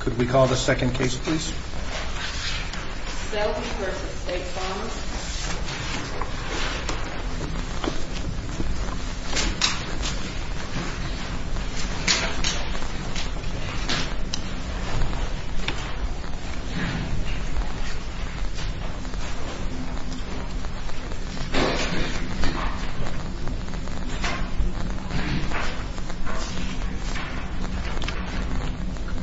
Could we call the second case please? Selby v. State Farm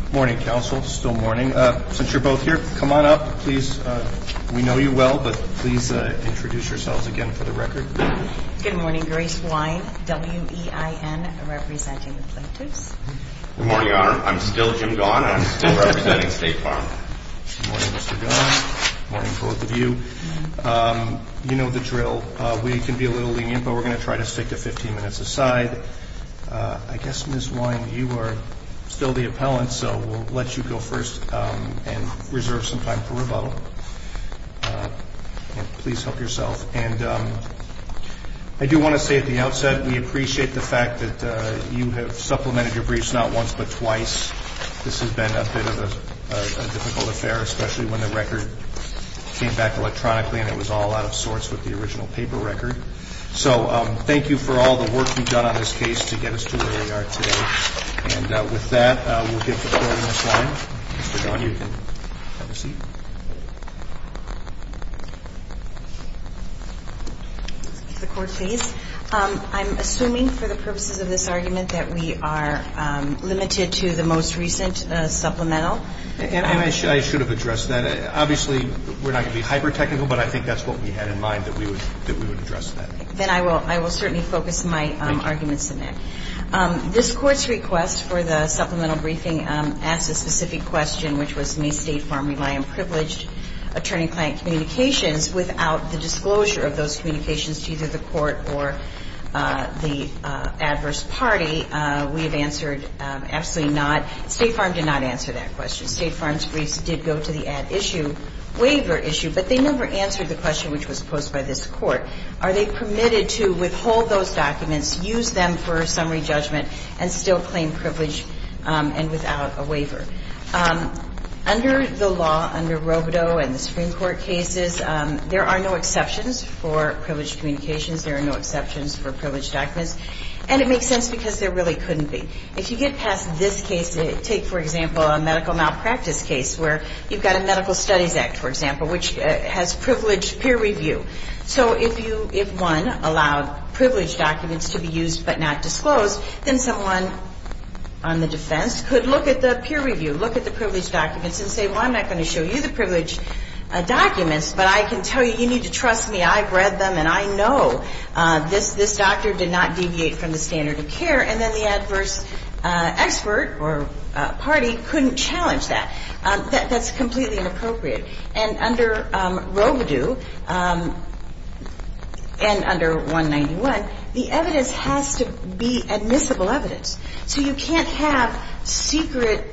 Good morning, counsel. Still morning. Good morning. Since you're both here, come on up. We know you well, but please introduce yourselves again for the record. Good morning. Grace Wein, W-E-I-N, representing the plaintiffs. Good morning, Your Honor. I'm still Jim Gaughan. I'm still representing State Farm. Good morning, Mr. Gaughan. Good morning, both of you. You know the drill. We can be a little lenient, but we're going to try to stick to 15 minutes a side. I guess, Ms. Wein, you are still the appellant, so we'll let you go first and reserve some time for rebuttal. Please help yourself. And I do want to say at the outset, we appreciate the fact that you have supplemented your briefs not once, but twice. This has been a bit of a difficult affair, especially when the record came back electronically and it was all out of sorts with the original paper record. So thank you for all the work you've done on this case to get us to where we are today. And with that, we'll give the floor to Ms. Wein. Mr. Gaughan, you can have a seat. The Court, please. I'm assuming for the purposes of this argument that we are limited to the most recent supplemental. And I should have addressed that. Obviously, we're not going to be hyper technical, but I think that's what we had in mind, that we would address that. Then I will certainly focus my arguments on that. This Court's request for the supplemental briefing asks a specific question, which was, may State Farm rely on privileged attorney-client communications without the disclosure of those communications to either the Court or the adverse party? We have answered absolutely not. State Farm did not answer that question. State Farm's briefs did go to the ad issue, waiver issue, but they never answered the question which was posed by this Court. Are they permitted to withhold those documents, use them for summary judgment, and still claim privilege and without a waiver? Under the law, under Rovedo and the Supreme Court cases, there are no exceptions for privileged communications. There are no exceptions for privileged documents. And it makes sense because there really couldn't be. If you get past this case, take, for example, a medical malpractice case where you've got a medical studies act, for example, which has privileged peer review. So if one allowed privileged documents to be used but not disclosed, then someone on the defense could look at the peer review, look at the privileged documents, and say, well, I'm not going to show you the privileged documents, but I can tell you, you need to trust me. I've read them, and I know this doctor did not deviate from the standard of care. And then the adverse expert or party couldn't challenge that. That's completely inappropriate. And under Rovedo and under 191, the evidence has to be admissible evidence. So you can't have secret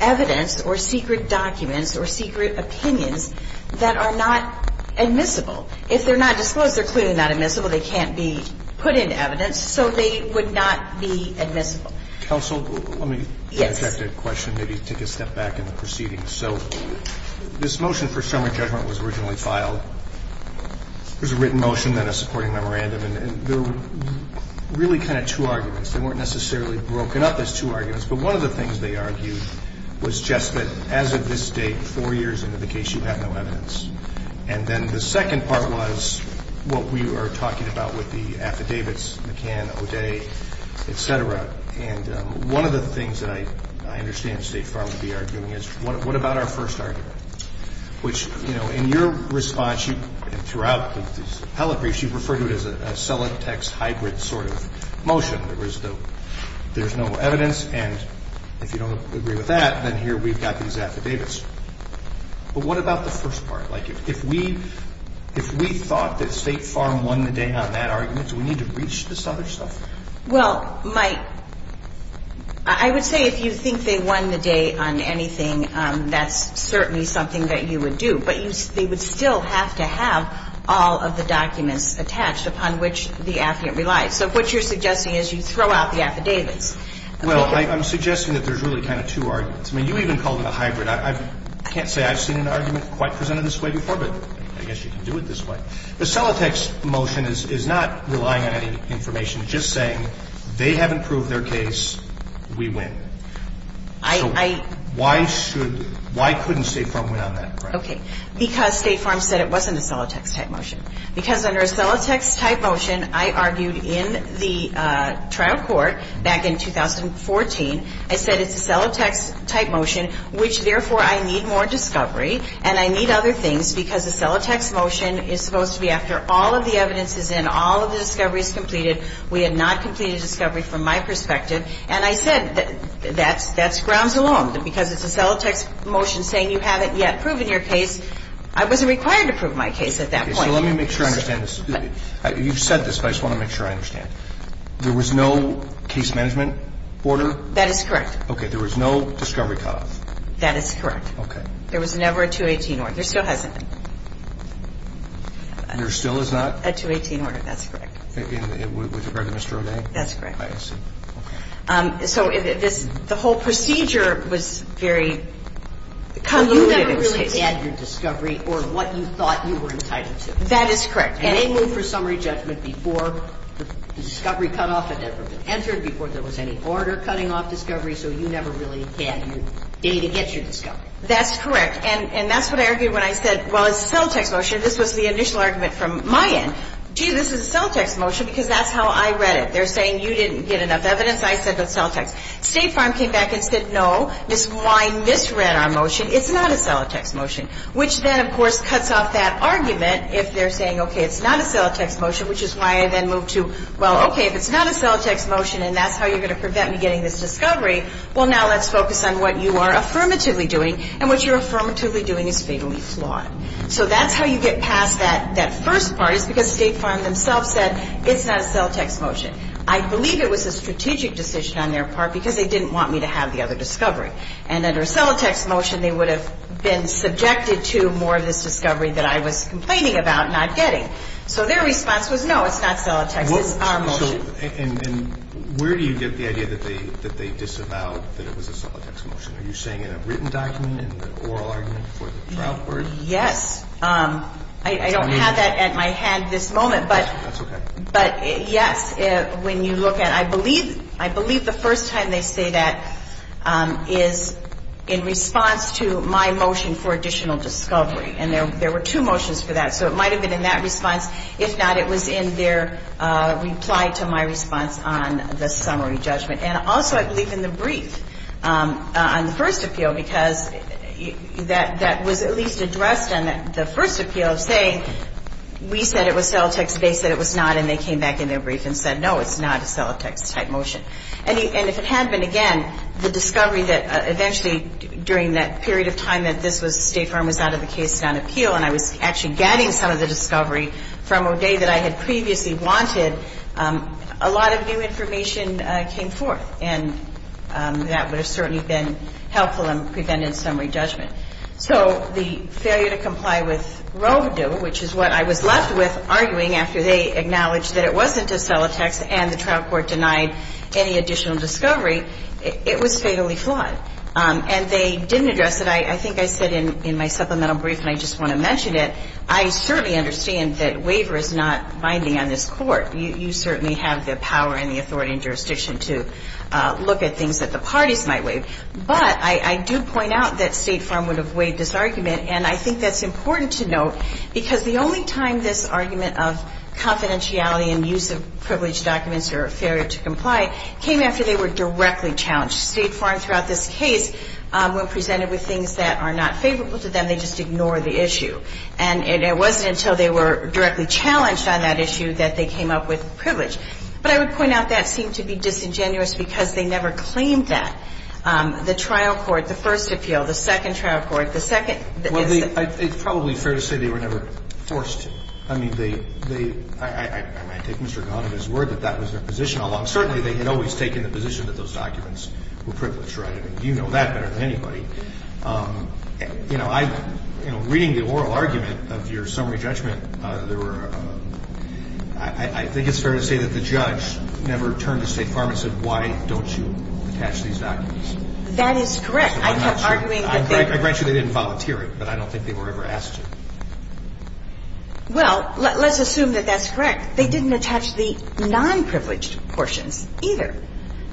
evidence or secret documents or secret opinions that are not admissible. If they're not disclosed, they're clearly not admissible. They can't be put into evidence. So they would not be admissible. Roberts. Counsel, let me interject a question, maybe take a step back in the proceedings. So this motion for summary judgment was originally filed. It was a written motion and a supporting memorandum. And there were really kind of two arguments. They weren't necessarily broken up as two arguments. But one of the things they argued was just that as of this date, four years into the case, you have no evidence. And then the second part was what we are talking about with the affidavits, McCann, O'Day, et cetera. And one of the things that I understand State Farm would be arguing is what about our first argument, which, you know, in your response, you threw out these appellate briefs. You referred to it as a cell and text hybrid sort of motion. There was no evidence. And if you don't agree with that, then here we've got these affidavits. But what about the first part? Like, if we thought that State Farm won the day on that argument, do we need to reach this other stuff? Well, my – I would say if you think they won the day on anything, that's certainly something that you would do. But they would still have to have all of the documents attached upon which the affidavit relies. So what you're suggesting is you throw out the affidavits. Well, I'm suggesting that there's really kind of two arguments. I mean, you even called it a hybrid. I can't say I've seen an argument quite presented this way before, but I guess you can do it this way. The cell and text motion is not relying on any information. It's just saying they haven't proved their case. We win. I – So why should – why couldn't State Farm win on that? Okay. Because State Farm said it wasn't a cell and text type motion. Because under a cell and text type motion, I argued in the trial court back in 2014. I said it's a cell and text type motion, which, therefore, I need more discovery. And I need other things because a cell and text motion is supposed to be after all of the evidence is in, all of the discovery is completed. We have not completed discovery from my perspective. And I said that's grounds alone. Because it's a cell and text motion saying you haven't yet proven your case, I wasn't required to prove my case at that point. Okay. So let me make sure I understand this. You've said this, but I just want to make sure I understand. Okay. There was no case management order? That is correct. Okay. There was no discovery cutoff? That is correct. Okay. There was never a 218 order. There still hasn't been. There still is not? A 218 order. That's correct. With regard to Mr. O'Day? That's correct. I see. Okay. So this – the whole procedure was very – Well, you never really had your discovery or what you thought you were entitled to. That is correct. And they moved for summary judgment before the discovery cutoff had ever been entered, before there was any order cutting off discovery. So you never really had your – to get your discovery. That's correct. And that's what I argued when I said, well, it's a cell and text motion. This was the initial argument from my end. Gee, this is a cell and text motion because that's how I read it. They're saying you didn't get enough evidence. I said it's cell and text. State Farm came back and said, no, I misread our motion. It's not a cell and text motion. Which then, of course, cuts off that argument if they're saying, okay, it's not a cell and text motion, which is why I then moved to, well, okay, if it's not a cell and text motion and that's how you're going to prevent me getting this discovery, well, now let's focus on what you are affirmatively doing. And what you're affirmatively doing is vaguely flawed. So that's how you get past that first part is because State Farm themselves said it's not a cell and text motion. I believe it was a strategic decision on their part because they didn't want me to have the other discovery. And under a cell and text motion, they would have been subjected to more of this discovery that I was complaining about not getting. So their response was, no, it's not cell and text. It's our motion. And where do you get the idea that they disavowed that it was a cell and text motion? Are you saying in a written document, in the oral argument for the trial court? Yes. I don't have that at my hand this moment. That's okay. But, yes, when you look at it, I believe the first time they say that is in response to my motion for additional discovery. And there were two motions for that. So it might have been in that response. If not, it was in their reply to my response on the summary judgment. And also I believe in the brief on the first appeal because that was at least addressed in the first appeal of saying, we said it was cell and text. They said it was not. And they came back in their brief and said, no, it's not a cell and text type motion. And if it had been, again, the discovery that eventually during that period of time that this State Farm was out of the case and on appeal and I was actually getting some of the discovery from O'Day that I had previously wanted, a lot of new information came forth. And that would have certainly been helpful in preventing summary judgment. So the failure to comply with Roe v. Doe, which is what I was left with arguing after they acknowledged that it wasn't a cell and text and the trial court denied any additional discovery, it was fatally flawed. And they didn't address it. I think I said in my supplemental brief, and I just want to mention it, I certainly understand that waiver is not binding on this Court. You certainly have the power and the authority and jurisdiction to look at things that the parties might waive. But I do point out that State Farm would have waived this argument. And I think that's important to note because the only time this argument of confidentiality and use of privileged documents or failure to comply came after they were directly challenged. State Farm throughout this case, when presented with things that are not favorable to them, they just ignore the issue. And it wasn't until they were directly challenged on that issue that they came up with privilege. But I would point out that seemed to be disingenuous because they never claimed that. The trial court, the first appeal, the second trial court, the second. Well, it's probably fair to say they were never forced to. I mean, they – I take Mr. Gahan and his word that that was their position, although certainly they had always taken the position that those documents were privileged, right? I mean, you know that better than anybody. You know, I – you know, reading the oral argument of your summary judgment, there were – I think it's fair to say that the judge never turned to State Farm and said, why don't you attach these documents? That is correct. I'm not arguing that they – I grant you they didn't volunteer it, but I don't think they were ever asked to. Well, let's assume that that's correct. They didn't attach the non-privileged portions either.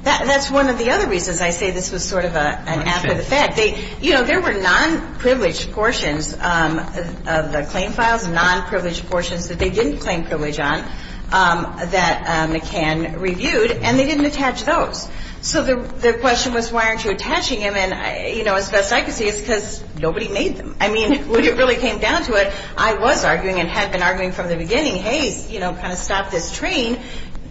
That's one of the other reasons I say this was sort of an after the fact. They – you know, there were non-privileged portions of the claim files, non-privileged portions that they didn't claim privilege on that McCann reviewed, and they didn't attach those. So the question was, why aren't you attaching them? And, you know, as best I could see, it's because nobody made them. I mean, when it really came down to it, I was arguing and had been arguing from the beginning, hey, you know, kind of stop this train,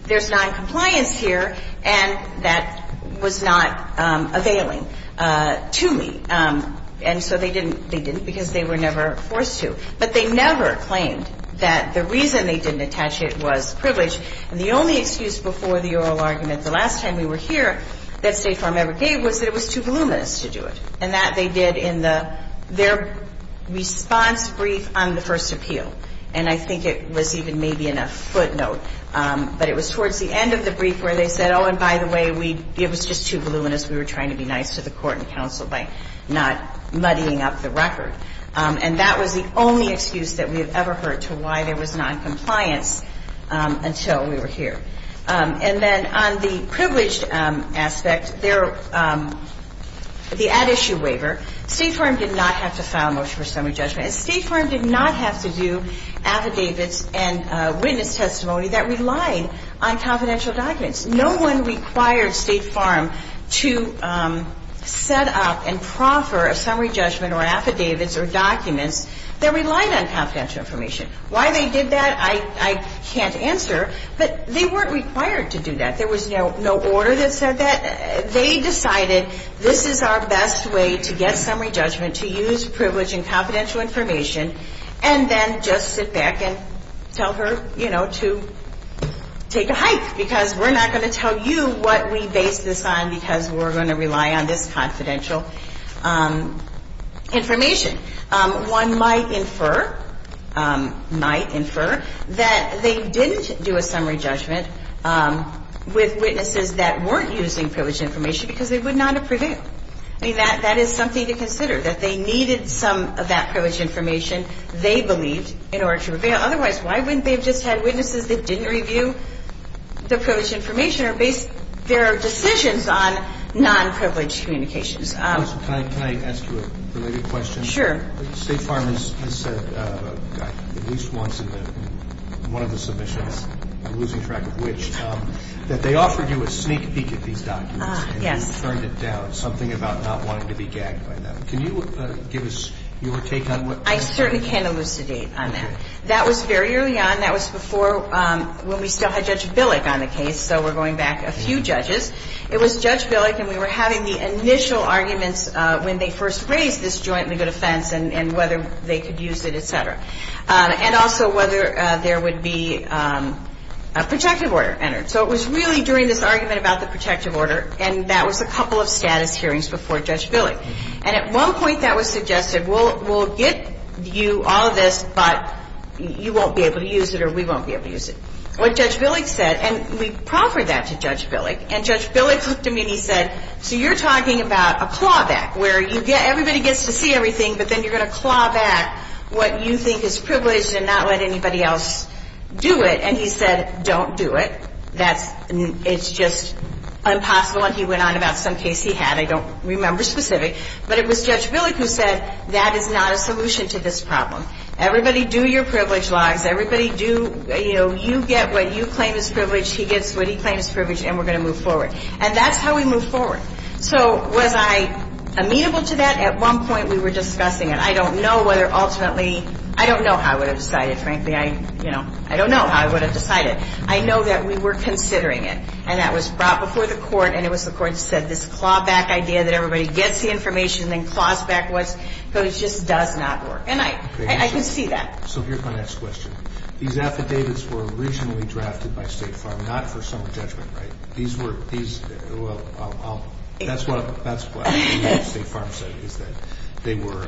there's noncompliance here, and that was not availing to me. And so they didn't because they were never forced to. But they never claimed that the reason they didn't attach it was privilege. And the only excuse before the oral argument the last time we were here that State Farm ever gave was that it was too voluminous to do it. And that they did in their response brief on the first appeal. And I think it was even maybe in a footnote. But it was towards the end of the brief where they said, oh, and by the way, it was just too voluminous. We were trying to be nice to the court and counsel by not muddying up the record. And that was the only excuse that we have ever heard to why there was noncompliance until we were here. And then on the privileged aspect, the ad issue waiver, State Farm did not have to file a motion for summary judgment. State Farm did not have to do affidavits and witness testimony. That relied on confidential documents. No one required State Farm to set up and proffer a summary judgment or affidavits or documents that relied on confidential information. Why they did that, I can't answer. But they weren't required to do that. There was no order that said that. They decided this is our best way to get summary judgment, to use privilege and confidential information, and then just sit back and tell her, you know, to take a hike. Because we're not going to tell you what we base this on because we're going to rely on this confidential information. One might infer that they didn't do a summary judgment with witnesses that weren't using privilege information because they would not have prevailed. I mean, that is something to consider, that they needed some of that privilege information they believed in order to prevail. Otherwise, why wouldn't they have just had witnesses that didn't review the privilege information or based their decisions on non-privileged communications? Can I ask you a related question? Sure. State Farm has said at least once in one of the submissions, I'm losing track of which, that they offered you a sneak peek at these documents and turned it down, something about not wanting to be gagged by them. Can you give us your take on what happened? I certainly can elucidate on that. That was very early on. That was before when we still had Judge Billick on the case, so we're going back a few judges. It was Judge Billick, and we were having the initial arguments when they first raised this jointly good offense and whether they could use it, et cetera, and also whether there would be a protective order entered. So it was really during this argument about the protective order, and that was a couple of status hearings before Judge Billick. And at one point that was suggested, we'll get you all this, but you won't be able to use it or we won't be able to use it. What Judge Billick said, and we proffered that to Judge Billick, and Judge Billick looked at me and he said, so you're talking about a clawback where everybody gets to see everything, but then you're going to claw back what you think is privileged and not let anybody else do it. And he said, don't do it. It's just impossible. And he went on about some case he had. I don't remember specific. But it was Judge Billick who said, that is not a solution to this problem. Everybody do your privilege logs. Everybody do, you know, you get what you claim is privilege, he gets what he claims is privilege, and we're going to move forward. And that's how we moved forward. So was I amenable to that? At one point we were discussing it. I don't know whether ultimately, I don't know how I would have decided, frankly. I, you know, I don't know how I would have decided. I know that we were considering it, and that was brought before the court, and it was the court that said this clawback idea that everybody gets the information and then claws back what's privileged just does not work. And I can see that. So here's my next question. These affidavits were originally drafted by State Farm, not for some judgment, right? These were, these, well, that's what State Farm said, is that they were,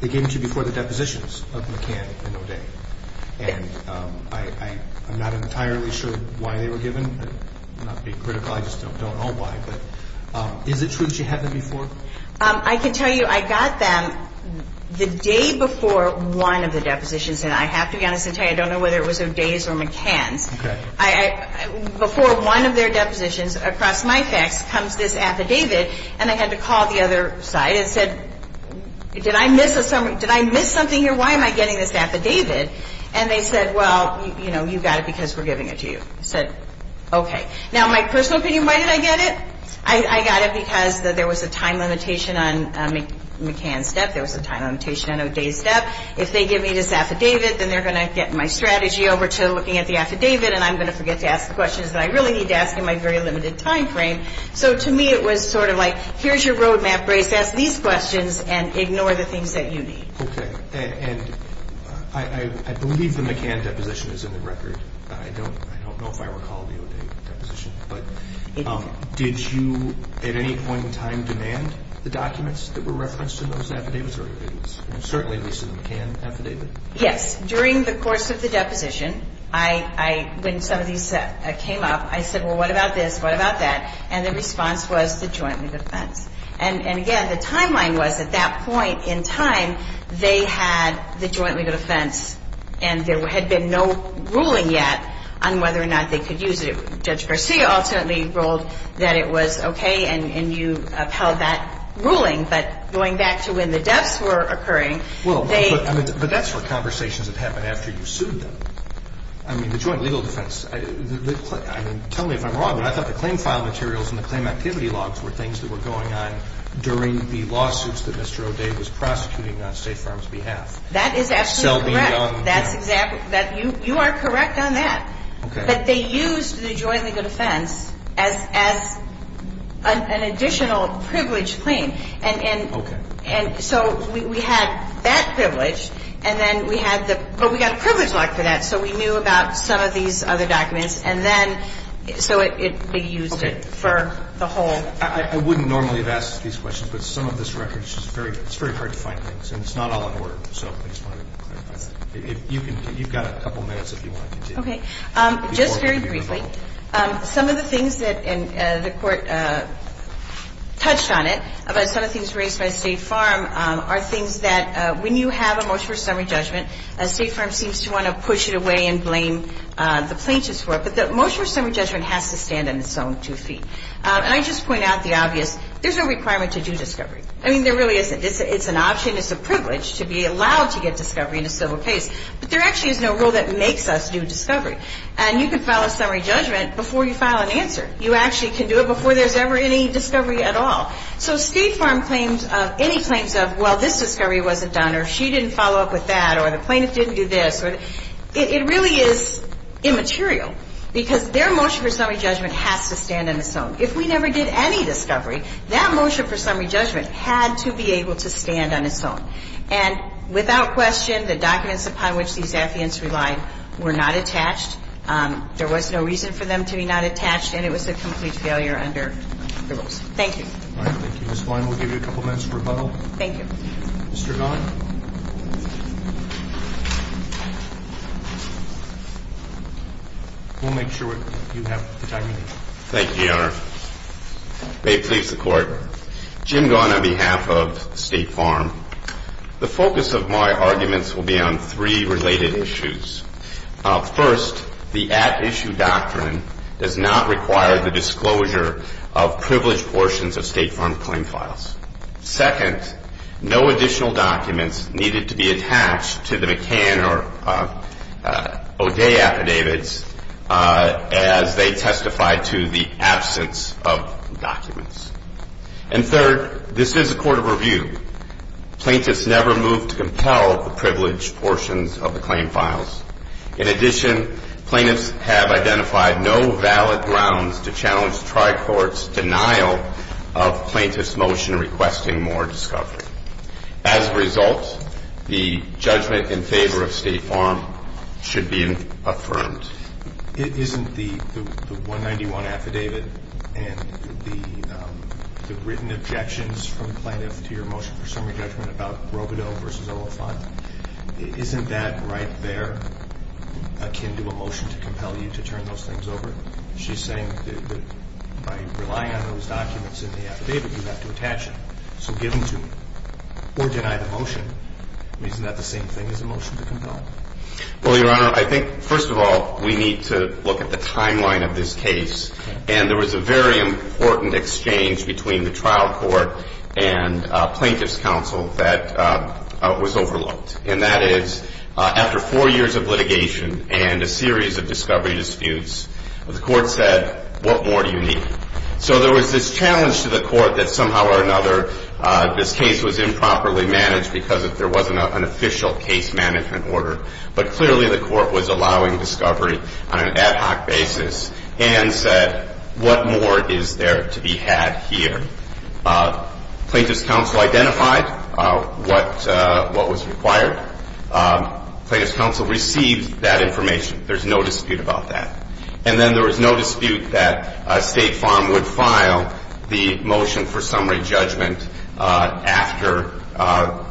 they came to you before the depositions of McCann and O'Day. And I'm not entirely sure why they were given. I'm not being critical. I just don't know why. But is it true that you had them before? I can tell you I got them the day before one of the depositions. And I have to be honest and tell you, I don't know whether it was O'Day's or McCann's. Okay. Before one of their depositions, across my facts, comes this affidavit, and I had to call the other side and said, did I miss a, did I miss something here? Why am I getting this affidavit? And they said, well, you know, you got it because we're giving it to you. I said, okay. Now, my personal opinion, why did I get it? I got it because there was a time limitation on McCann's step. There was a time limitation on O'Day's step. If they give me this affidavit, then they're going to get my strategy over to looking at the affidavit, and I'm going to forget to ask the questions that I really need to ask in my very limited time frame. So to me, it was sort of like, here's your roadmap, Brace. Ask these questions and ignore the things that you need. Okay. And I believe the McCann deposition is in the record. I don't know if I recall the O'Day deposition. But did you at any point in time demand the documents that were referenced in those affidavits or it was certainly at least in the McCann affidavit? Yes. During the course of the deposition, when some of these came up, I said, well, what about this? What about that? And the response was to jointly defense. And, again, the timeline was at that point in time, they had the jointly defense and there had been no ruling yet on whether or not they could use it. Judge Garcia ultimately ruled that it was okay and you upheld that ruling. But going back to when the deaths were occurring, they ---- Well, but that's where conversations would happen after you sued them. I mean, the jointly legal defense. Tell me if I'm wrong, but I thought the claim file materials and the claim activity logs were things that were going on during the lawsuits that Mr. O'Day was prosecuting on State Farm's behalf. That is absolutely correct. That's exactly ---- You are correct on that. Okay. But they used the jointly legal defense as an additional privileged claim. Okay. And so we had that privilege and then we had the ---- but we got a privilege lock for that so we knew about some of these other documents and then so it would be used for the whole ---- Okay. I wouldn't normally have asked these questions, but some of this record is just very ---- it's very hard to find things and it's not all in order. So I just wanted to clarify that. You've got a couple minutes if you want to continue. Okay. Just very briefly, some of the things that the Court touched on it, some of the things raised by State Farm, are things that when you have a motion for summary judgment, State Farm seems to want to push it away and blame the plaintiffs for it. But the motion for summary judgment has to stand on its own two feet. And I just point out the obvious. There's no requirement to do discovery. I mean, there really isn't. It's an option. It's a privilege to be allowed to get discovery in a civil case. But there actually is no rule that makes us do discovery. And you can file a summary judgment before you file an answer. You actually can do it before there's ever any discovery at all. So State Farm claims any claims of, well, this discovery wasn't done or she didn't follow up with that or the plaintiff didn't do this. It really is immaterial. Because their motion for summary judgment has to stand on its own. If we never did any discovery, that motion for summary judgment had to be able to stand on its own. And without question, the documents upon which these affidavits relied were not attached. There was no reason for them to be not attached, and it was a complete failure under the rules. Thank you. All right. Thank you, Ms. Klein. We'll give you a couple minutes for rebuttal. Thank you. Mr. Don? We'll make sure you have the time you need. Thank you, Your Honor. May it please the Court. Jim Gaughan, on behalf of State Farm. The focus of my arguments will be on three related issues. First, the at-issue doctrine does not require the disclosure of privileged portions of State Farm claim files. Second, no additional document, needed to be attached to the McCann or O'Day affidavits as they testified to the absence of documents. And third, this is a court of review. Plaintiffs never move to compel the privileged portions of the claim files. In addition, plaintiffs have identified no valid grounds to challenge the Tri-Court's denial of plaintiffs' motion requesting more discovery. As a result, the judgment in favor of State Farm should be affirmed. Isn't the 191 affidavit and the written objections from plaintiffs to your motion for summary judgment about Robodeaux v. Olafon, isn't that right there akin to a motion to compel you to turn those things over? She's saying that by relying on those documents in the affidavit, you have to attach them, so give them to me, or deny the motion. Isn't that the same thing as a motion to compel? Well, Your Honor, I think, first of all, we need to look at the timeline of this case. And there was a very important exchange between the Trial Court and Plaintiffs' Counsel that was overlooked. And that is, after four years of litigation and a series of discovery disputes, the Court said, what more do you need? So there was this challenge to the Court that somehow or another this case was improperly managed because there wasn't an official case management order. But clearly the Court was allowing discovery on an ad hoc basis and said, what more is there to be had here? Plaintiffs' Counsel identified what was required. Plaintiffs' Counsel received that information. There's no dispute about that. And then there was no dispute that State Farm would file the motion for summary judgment after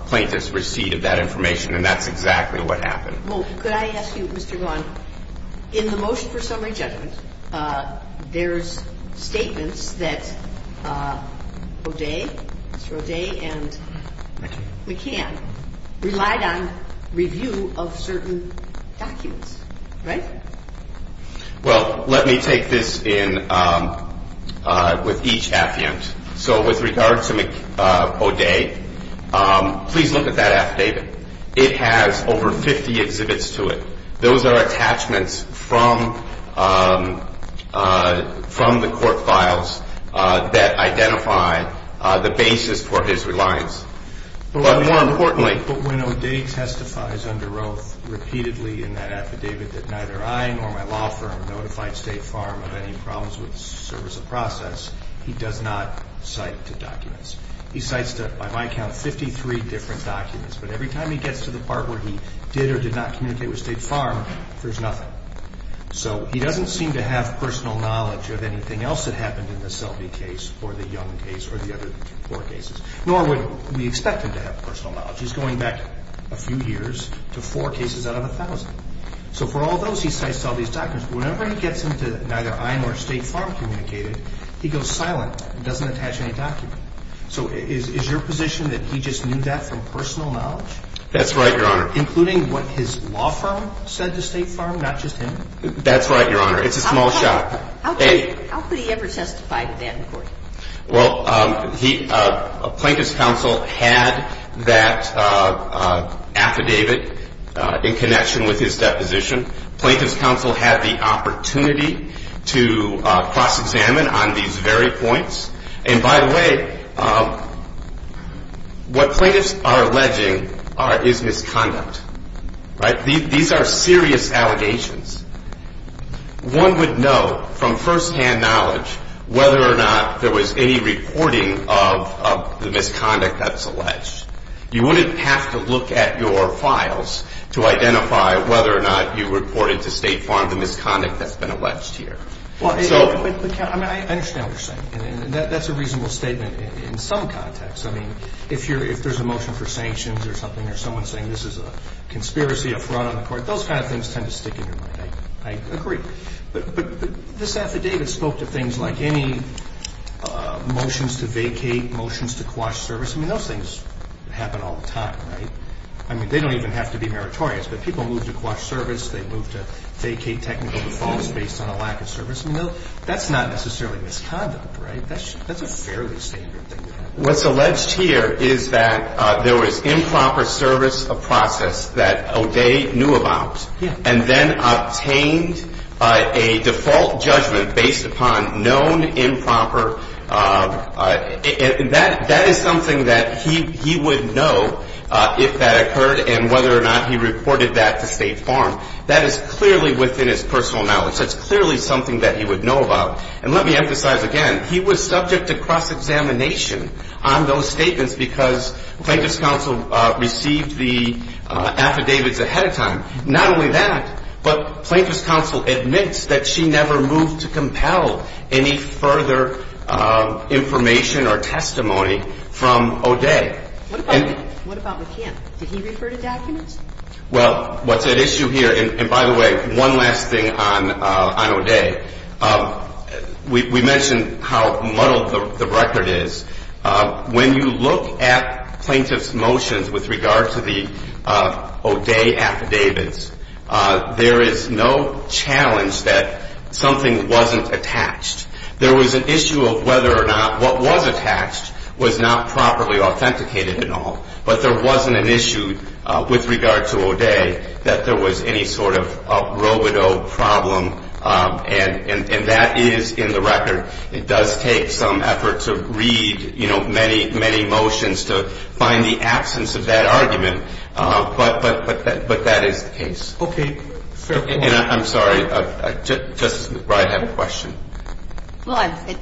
plaintiffs received that information, and that's exactly what happened. Well, could I ask you, Mr. Vaughan, in the motion for summary judgment, there's statements that Roday, Mr. Roday and McCann, relied on review of certain documents, right? Well, let me take this in with each affiant. So with regard to O'Day, please look at that affidavit. It has over 50 exhibits to it. Those are attachments from the court files that identify the basis for his reliance. But when O'Day testifies under oath repeatedly in that affidavit that neither I nor my law firm notified State Farm of any problems with the service of process, he does not cite the documents. He cites, by my count, 53 different documents. But every time he gets to the part where he did or did not communicate with State Farm, there's nothing. So he doesn't seem to have personal knowledge of anything else that happened in the Selby case or the Young case or the other four cases, nor would we expect him to have personal knowledge. He's going back a few years to four cases out of a thousand. So for all those, he cites all these documents. Whenever he gets them to neither I nor State Farm communicated, he goes silent. He doesn't attach any document. So is your position that he just knew that from personal knowledge? That's right, Your Honor. Including what his law firm said to State Farm, not just him? That's right, Your Honor. It's a small shot. How could he ever testify to that in court? Well, plaintiff's counsel had that affidavit in connection with his deposition. Plaintiff's counsel had the opportunity to cross-examine on these very points. And by the way, what plaintiffs are alleging is misconduct, right? These are serious allegations. One would know from firsthand knowledge whether or not there was any reporting of the misconduct that's alleged. You wouldn't have to look at your files to identify whether or not you reported to State Farm the misconduct that's been alleged here. I mean, I understand what you're saying, and that's a reasonable statement in some contexts. I mean, if there's a motion for sanctions or something, or someone saying this is a conspiracy, a fraud on the court, those kind of things tend to stick in your mind. I agree. But this affidavit spoke to things like any motions to vacate, motions to quash service. I mean, those things happen all the time, right? I mean, they don't even have to be meritorious, but people move to quash service. They move to vacate technical defaults based on a lack of service. I mean, that's not necessarily misconduct, right? That's a fairly standard thing to do. What's alleged here is that there was improper service of process that O'Day knew about and then obtained a default judgment based upon known improper. That is something that he would know if that occurred and whether or not he reported that to State Farm. That is clearly within his personal knowledge. That's clearly something that he would know about. And let me emphasize again, he was subject to cross-examination on those statements because Plaintiff's counsel received the affidavits ahead of time. Not only that, but Plaintiff's counsel admits that she never moved to compel any further information or testimony from O'Day. What about with him? Did he refer to documents? Well, what's at issue here, and by the way, one last thing on O'Day. We mentioned how muddled the record is. When you look at Plaintiff's motions with regard to the O'Day affidavits, there is no challenge that something wasn't attached. There was an issue of whether or not what was attached was not properly authenticated and all, but there wasn't an issue with regard to O'Day that there was any sort of robado problem, and that is in the record. It does take some effort to read, you know, many, many motions to find the absence of that argument, but that is the case. Okay. Fair point. I'm sorry. Justice McBride, I have a question. Well,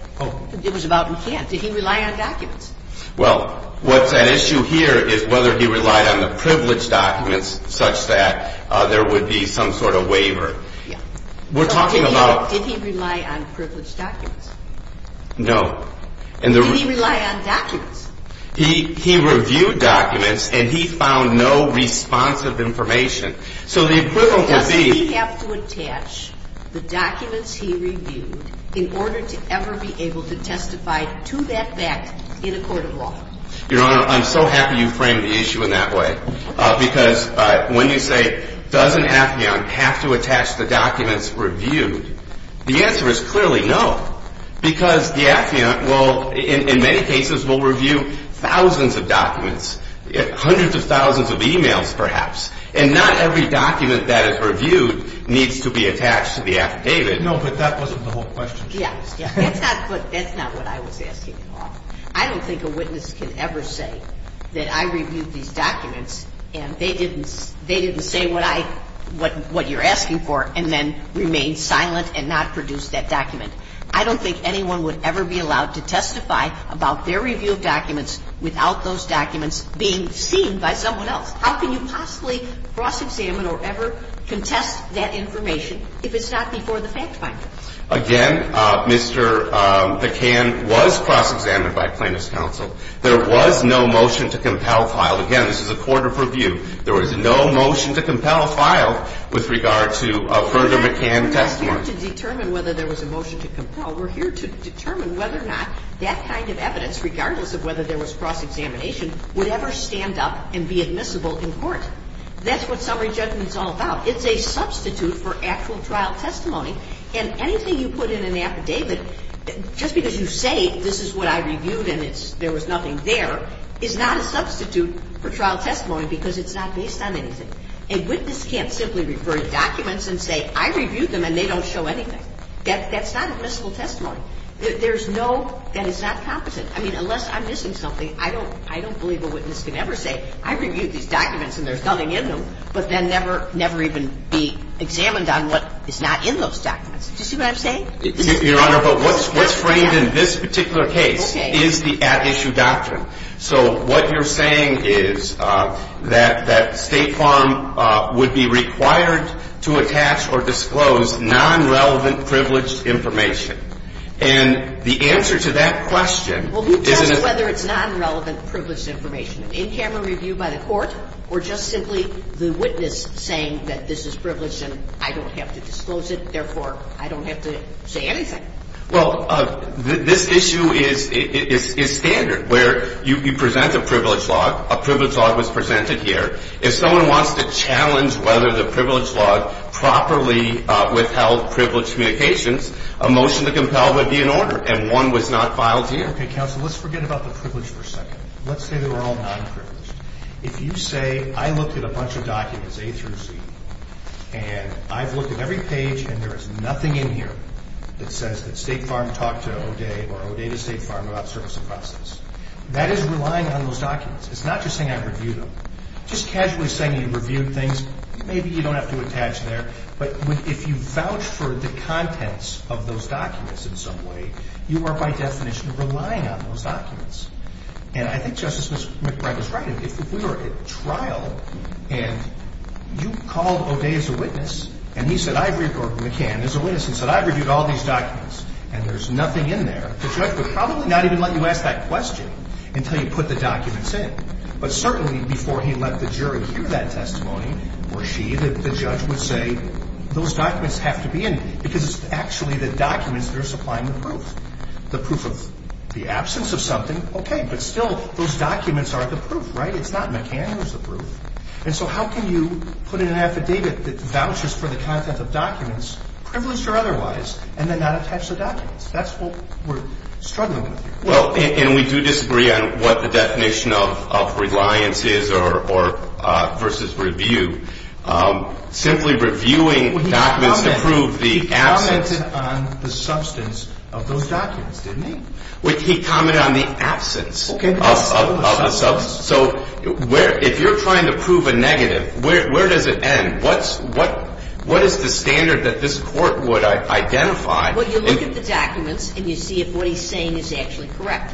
it was about McCann. Did he rely on documents? Well, what's at issue here is whether he relied on the privileged documents such that there would be some sort of waiver. Yeah. We're talking about... Did he rely on privileged documents? No. Did he rely on documents? He reviewed documents, and he found no responsive information. So the equivalent would be... ...the documents he reviewed in order to ever be able to testify to that fact in a court of law. Your Honor, I'm so happy you framed the issue in that way because when you say, does an affiant have to attach the documents reviewed, the answer is clearly no because the affiant will, in many cases, will review thousands of documents, hundreds of thousands of e-mails perhaps, and not every document that is reviewed needs to be attached to the affidavit. No, but that wasn't the whole question. Yeah. That's not what I was asking at all. I don't think a witness can ever say that I reviewed these documents, and they didn't say what you're asking for and then remain silent and not produce that document. I don't think anyone would ever be allowed to testify about their review of documents without those documents being seen by someone else. How can you possibly cross-examine or ever contest that information if it's not before the fact finder? Again, Mr. McCann was cross-examined by plaintiff's counsel. There was no motion to compel filed. Again, this is a court of review. There was no motion to compel filed with regard to a further McCann testimony. We're not here to determine whether there was a motion to compel. We're here to determine whether or not that kind of evidence, regardless of whether there was cross-examination, would ever stand up and be admissible in court. That's what summary judgment is all about. It's a substitute for actual trial testimony, and anything you put in an affidavit, just because you say this is what I reviewed and there was nothing there, is not a substitute for trial testimony because it's not based on anything. A witness can't simply refer to documents and say I reviewed them and they don't show anything. That's not admissible testimony. There's no – that is not competent. I mean, unless I'm missing something, I don't believe a witness can ever say I reviewed these documents and there's nothing in them, but then never even be examined on what is not in those documents. Do you see what I'm saying? Your Honor, but what's framed in this particular case is the at-issue doctrine. So what you're saying is that State Farm would be required to attach or disclose non-relevant privileged information. And the answer to that question is – Well, who tells you whether it's non-relevant privileged information? An in-camera review by the court or just simply the witness saying that this is privileged and I don't have to disclose it, therefore I don't have to say anything? Well, this issue is standard where you present a privileged log. A privileged log was presented here. If someone wants to challenge whether the privileged log properly withheld privileged communications, a motion to compel would be in order, and one was not filed here. Okay, counsel, let's forget about the privileged for a second. Let's say they were all non-privileged. If you say I looked at a bunch of documents, A through Z, and I've looked at every page and there is nothing in here that says that State Farm talked to O'Day or O'Day to State Farm about service and process, that is relying on those documents. It's not just saying I reviewed them. Just casually saying you reviewed things, maybe you don't have to attach there, but if you vouch for the contents of those documents in some way, you are by definition relying on those documents. And I think Justice McBride was right. If we were at trial and you called O'Day as a witness and he said, or McCann as a witness, and said I reviewed all these documents and there's nothing in there, the judge would probably not even let you ask that question until you put the documents in. But certainly before he let the jury hear that testimony or she, the judge would say those documents have to be in because it's actually the documents that are supplying the proof. The proof of the absence of something, okay, but still those documents are the proof, right? It's not McCann who's the proof. And so how can you put in an affidavit that vouches for the contents of documents, privileged or otherwise, and then not attach the documents? That's what we're struggling with here. Well, and we do disagree on what the definition of reliance is or versus review. Simply reviewing documents to prove the absence. He commented on the substance of those documents, didn't he? He commented on the absence of the substance. So if you're trying to prove a negative, where does it end? What is the standard that this Court would identify? Well, you look at the documents and you see if what he's saying is actually correct.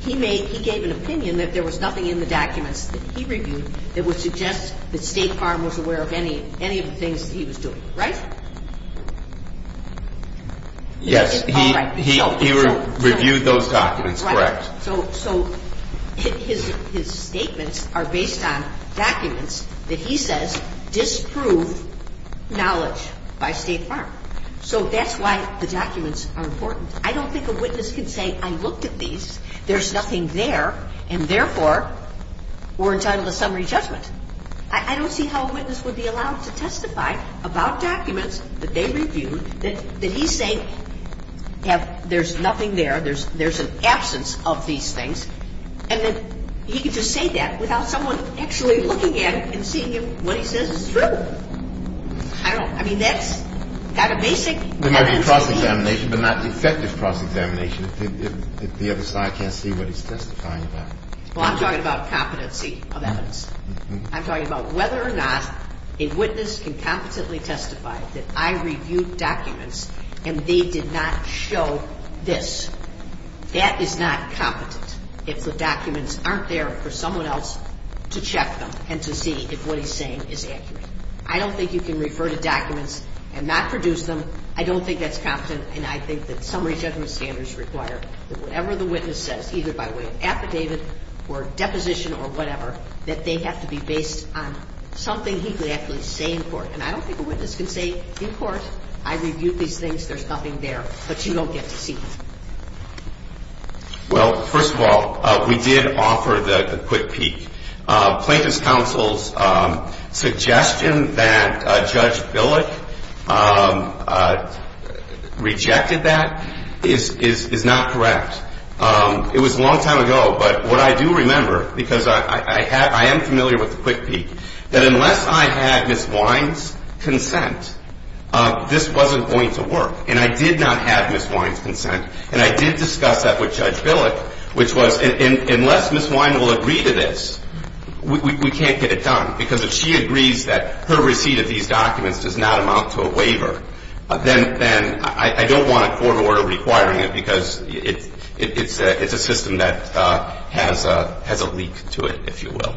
He gave an opinion that there was nothing in the documents that he reviewed that would suggest that State Farm was aware of any of the things that he was doing, right? Yes, he reviewed those documents, correct. So his statements are based on documents that he says disprove knowledge by State Farm. So that's why the documents are important. I don't think a witness can say I looked at these, there's nothing there, and therefore we're entitled to summary judgment. I don't see how a witness would be allowed to testify about documents that they reviewed that he's saying there's nothing there, there's an absence of these things, and that he could just say that without someone actually looking at it and seeing if what he says is true. I don't know. I mean, that's not a basic evidence. There might be cross-examination, but not effective cross-examination if the other side can't see what he's testifying about. Well, I'm talking about competency of evidence. I'm talking about whether or not a witness can competently testify that I reviewed documents and they did not show this. That is not competent if the documents aren't there for someone else to check them and to see if what he's saying is accurate. I don't think you can refer to documents and not produce them. I don't think that's competent, and I think that summary judgment standards require that whatever the witness says, either by way of affidavit or deposition or whatever, that they have to be based on something he could actually say in court. And I don't think a witness can say in court I reviewed these things, there's nothing there, but you don't get to see them. Well, first of all, we did offer the quick peek. Plaintiff's counsel's suggestion that Judge Billick rejected that is not correct. It was a long time ago, but what I do remember, because I am familiar with the quick peek, that unless I had Ms. Wine's consent, this wasn't going to work, and I did not have Ms. Wine's consent, and I did discuss that with Judge Billick, which was unless Ms. Wine will agree to this, we can't get it done, because if she agrees that her receipt of these documents does not amount to a waiver, then I don't want a court order requiring it because it's a system that has a leak to it, if you will.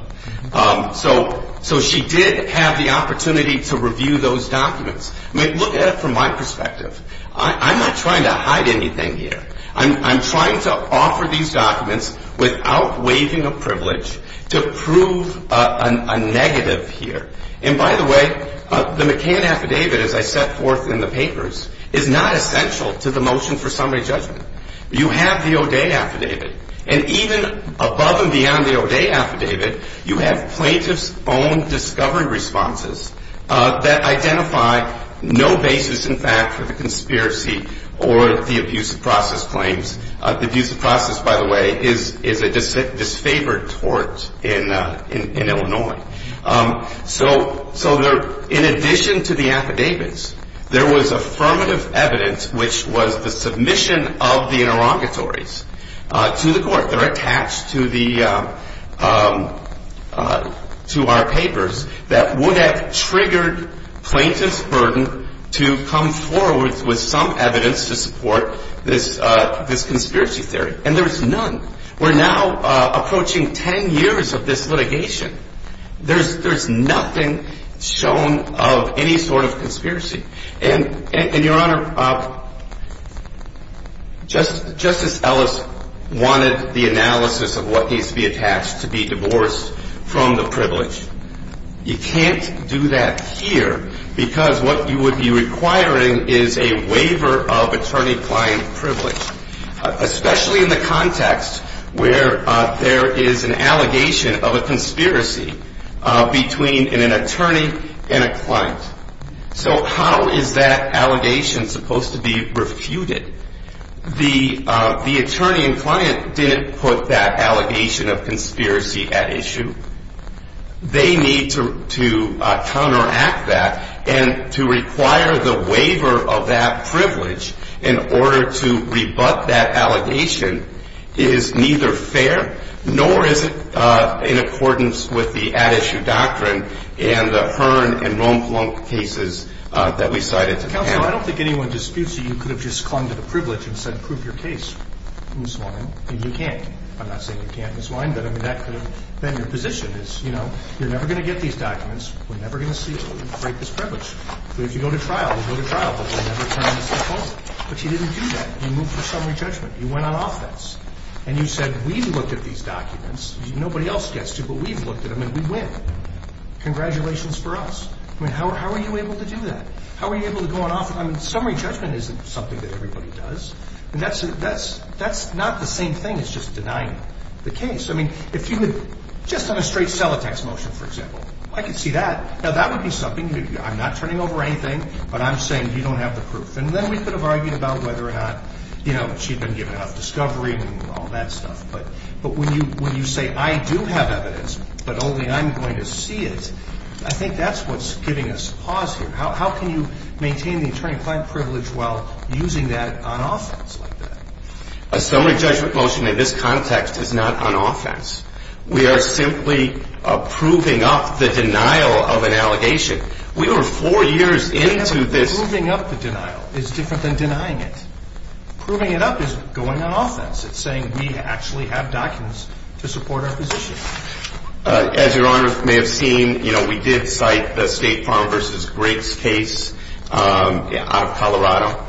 So she did have the opportunity to review those documents. I mean, look at it from my perspective. I'm not trying to hide anything here. I'm trying to offer these documents without waiving a privilege to prove a negative here. And by the way, the McCann affidavit, as I set forth in the papers, is not essential to the motion for summary judgment. You have the O'Day affidavit, and even above and beyond the O'Day affidavit, you have plaintiff's own discovery responses that identify no basis in fact for the conspiracy or the abuse of process claims. Abuse of process, by the way, is a disfavored tort in Illinois. So in addition to the affidavits, there was affirmative evidence, which was the submission of the interrogatories to the court. They're attached to our papers that would have triggered plaintiff's burden to come forward with some evidence to support this conspiracy theory. And there's none. We're now approaching 10 years of this litigation. And, Your Honor, Justice Ellis wanted the analysis of what needs to be attached to be divorced from the privilege. You can't do that here because what you would be requiring is a waiver of attorney-client privilege, especially in the context where there is an allegation of a conspiracy between an attorney and a client. So how is that allegation supposed to be refuted? The attorney and client didn't put that allegation of conspiracy at issue. They need to counteract that. And to require the waiver of that privilege in order to rebut that allegation is neither fair nor is it in accordance with the at-issue doctrine and the Hearn and Rompelung cases that we cited today. Counsel, I don't think anyone disputes that you could have just clung to the privilege and said, prove your case and swine, and you can't. I'm not saying you can't and swine, but, I mean, that could have been your position is, you know, you're never going to get these documents. We're never going to see you break this privilege. If you go to trial, we'll go to trial, but we'll never turn this thing over. But you didn't do that. You moved to summary judgment. You went on offense. And you said, we've looked at these documents. Nobody else gets to, but we've looked at them, and we win. Congratulations for us. I mean, how are you able to do that? How are you able to go on offense? I mean, summary judgment isn't something that everybody does. And that's not the same thing as just denying the case. I mean, if you had just done a straight cell attacks motion, for example, I could see that. Now, that would be something you could do. I'm not turning over anything, but I'm saying you don't have the proof. And then we could have argued about whether or not, you know, she'd been given enough discovery and all that stuff. But when you say, I do have evidence, but only I'm going to see it, I think that's what's giving us pause here. How can you maintain the attorney-client privilege while using that on offense like that? A summary judgment motion in this context is not on offense. We are simply proving up the denial of an allegation. We were four years into this. Proving up the denial is different than denying it. Proving it up is going on offense. It's saying we actually have documents to support our position. As Your Honor may have seen, you know, we did cite the State Farm v. Griggs case out of Colorado.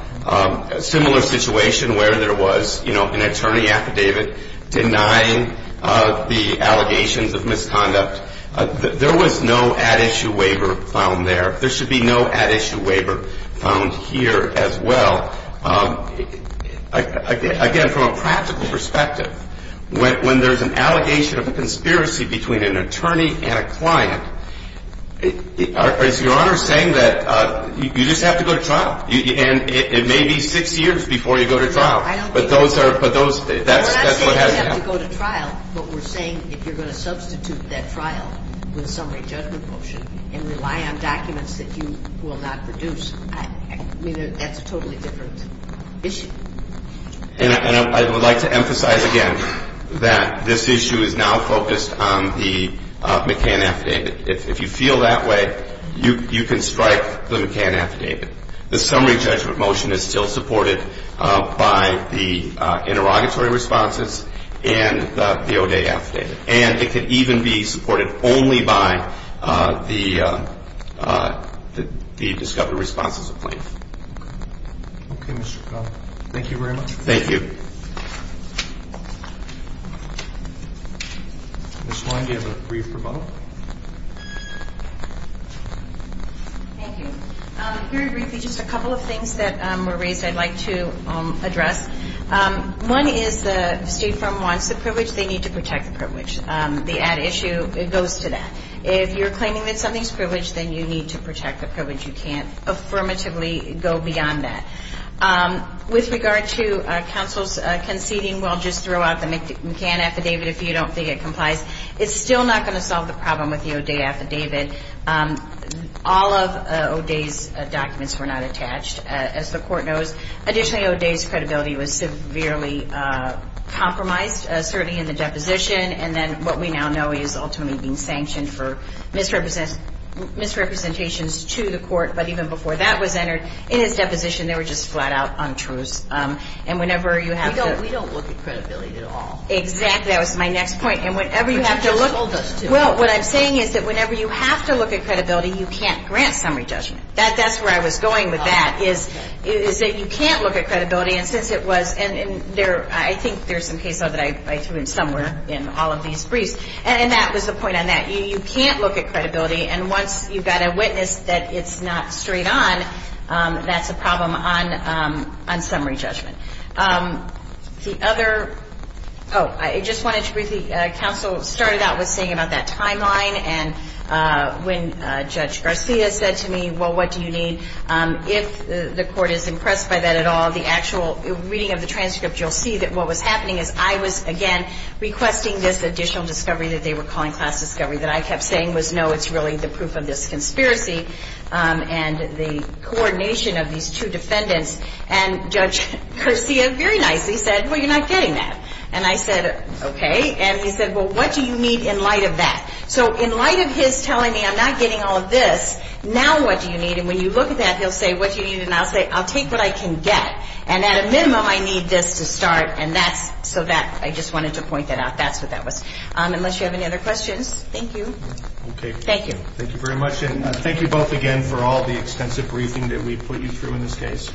A similar situation where there was, you know, an attorney affidavit denying the allegations of misconduct. There was no at-issue waiver found there. There should be no at-issue waiver found here as well. Again, from a practical perspective, when there's an allegation of a conspiracy between an attorney and a client, is Your Honor saying that you just have to go to trial? And it may be six years before you go to trial. No, I don't think so. But those are, but those, that's what has happened. We're not saying you have to go to trial, but we're saying if you're going to substitute that trial with a summary judgment motion and rely on documents that you will not produce, I mean, that's a totally different issue. And I would like to emphasize again that this issue is now focused on the McCann affidavit. If you feel that way, you can strike the McCann affidavit. The summary judgment motion is still supported by the interrogatory responses and the O'Day affidavit. And it could even be supported only by the discovered responses of plaintiffs. Okay, Mr. Connell. Thank you very much. Thank you. Ms. Wein, do you have a brief rebuttal? Thank you. Very briefly, just a couple of things that were raised I'd like to address. One is the State firm wants the privilege. They need to protect the privilege. The ad issue, it goes to that. If you're claiming that something's privileged, then you need to protect the privilege. You can't affirmatively go beyond that. With regard to counsel's conceding, well, just throw out the McCann affidavit if you don't think it complies, it's still not going to solve the problem with the O'Day affidavit. All of O'Day's documents were not attached, as the Court knows. Additionally, O'Day's credibility was severely compromised, certainly in the deposition, and then what we now know is ultimately being sanctioned for misrepresentations to the Court. But even before that was entered in his deposition, they were just flat-out untruths. And whenever you have to – We don't look at credibility at all. Exactly. That was my next point. And whenever you have to look – But you just told us to. Well, what I'm saying is that whenever you have to look at credibility, you can't grant summary judgment. That's where I was going with that. My point is that you can't look at credibility, and since it was – and I think there's some case law that I threw in somewhere in all of these briefs, and that was the point on that. You can't look at credibility, and once you've got a witness that it's not straight on, that's a problem on summary judgment. The other – oh, I just wanted to briefly – counsel started out with saying about that timeline, and when Judge Garcia said to me, well, what do you need? If the court is impressed by that at all, the actual reading of the transcript, you'll see that what was happening is I was, again, requesting this additional discovery that they were calling class discovery that I kept saying was, no, it's really the proof of this conspiracy and the coordination of these two defendants. And Judge Garcia very nicely said, well, you're not getting that. And I said, okay. And he said, well, what do you need in light of that? So in light of his telling me I'm not getting all of this, now what do you need? And when you look at that, he'll say, what do you need? And I'll say, I'll take what I can get. And at a minimum, I need this to start, and that's – so that – I just wanted to point that out. That's what that was. Unless you have any other questions. Thank you. Okay. Thank you. Thank you very much, and thank you both again for all the extensive briefing that we put you through in this case.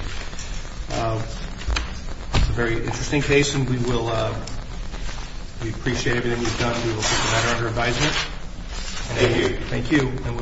It's a very interesting case, and we will – we appreciate everything you've done. We will put the matter under advisement. Thank you. Thank you.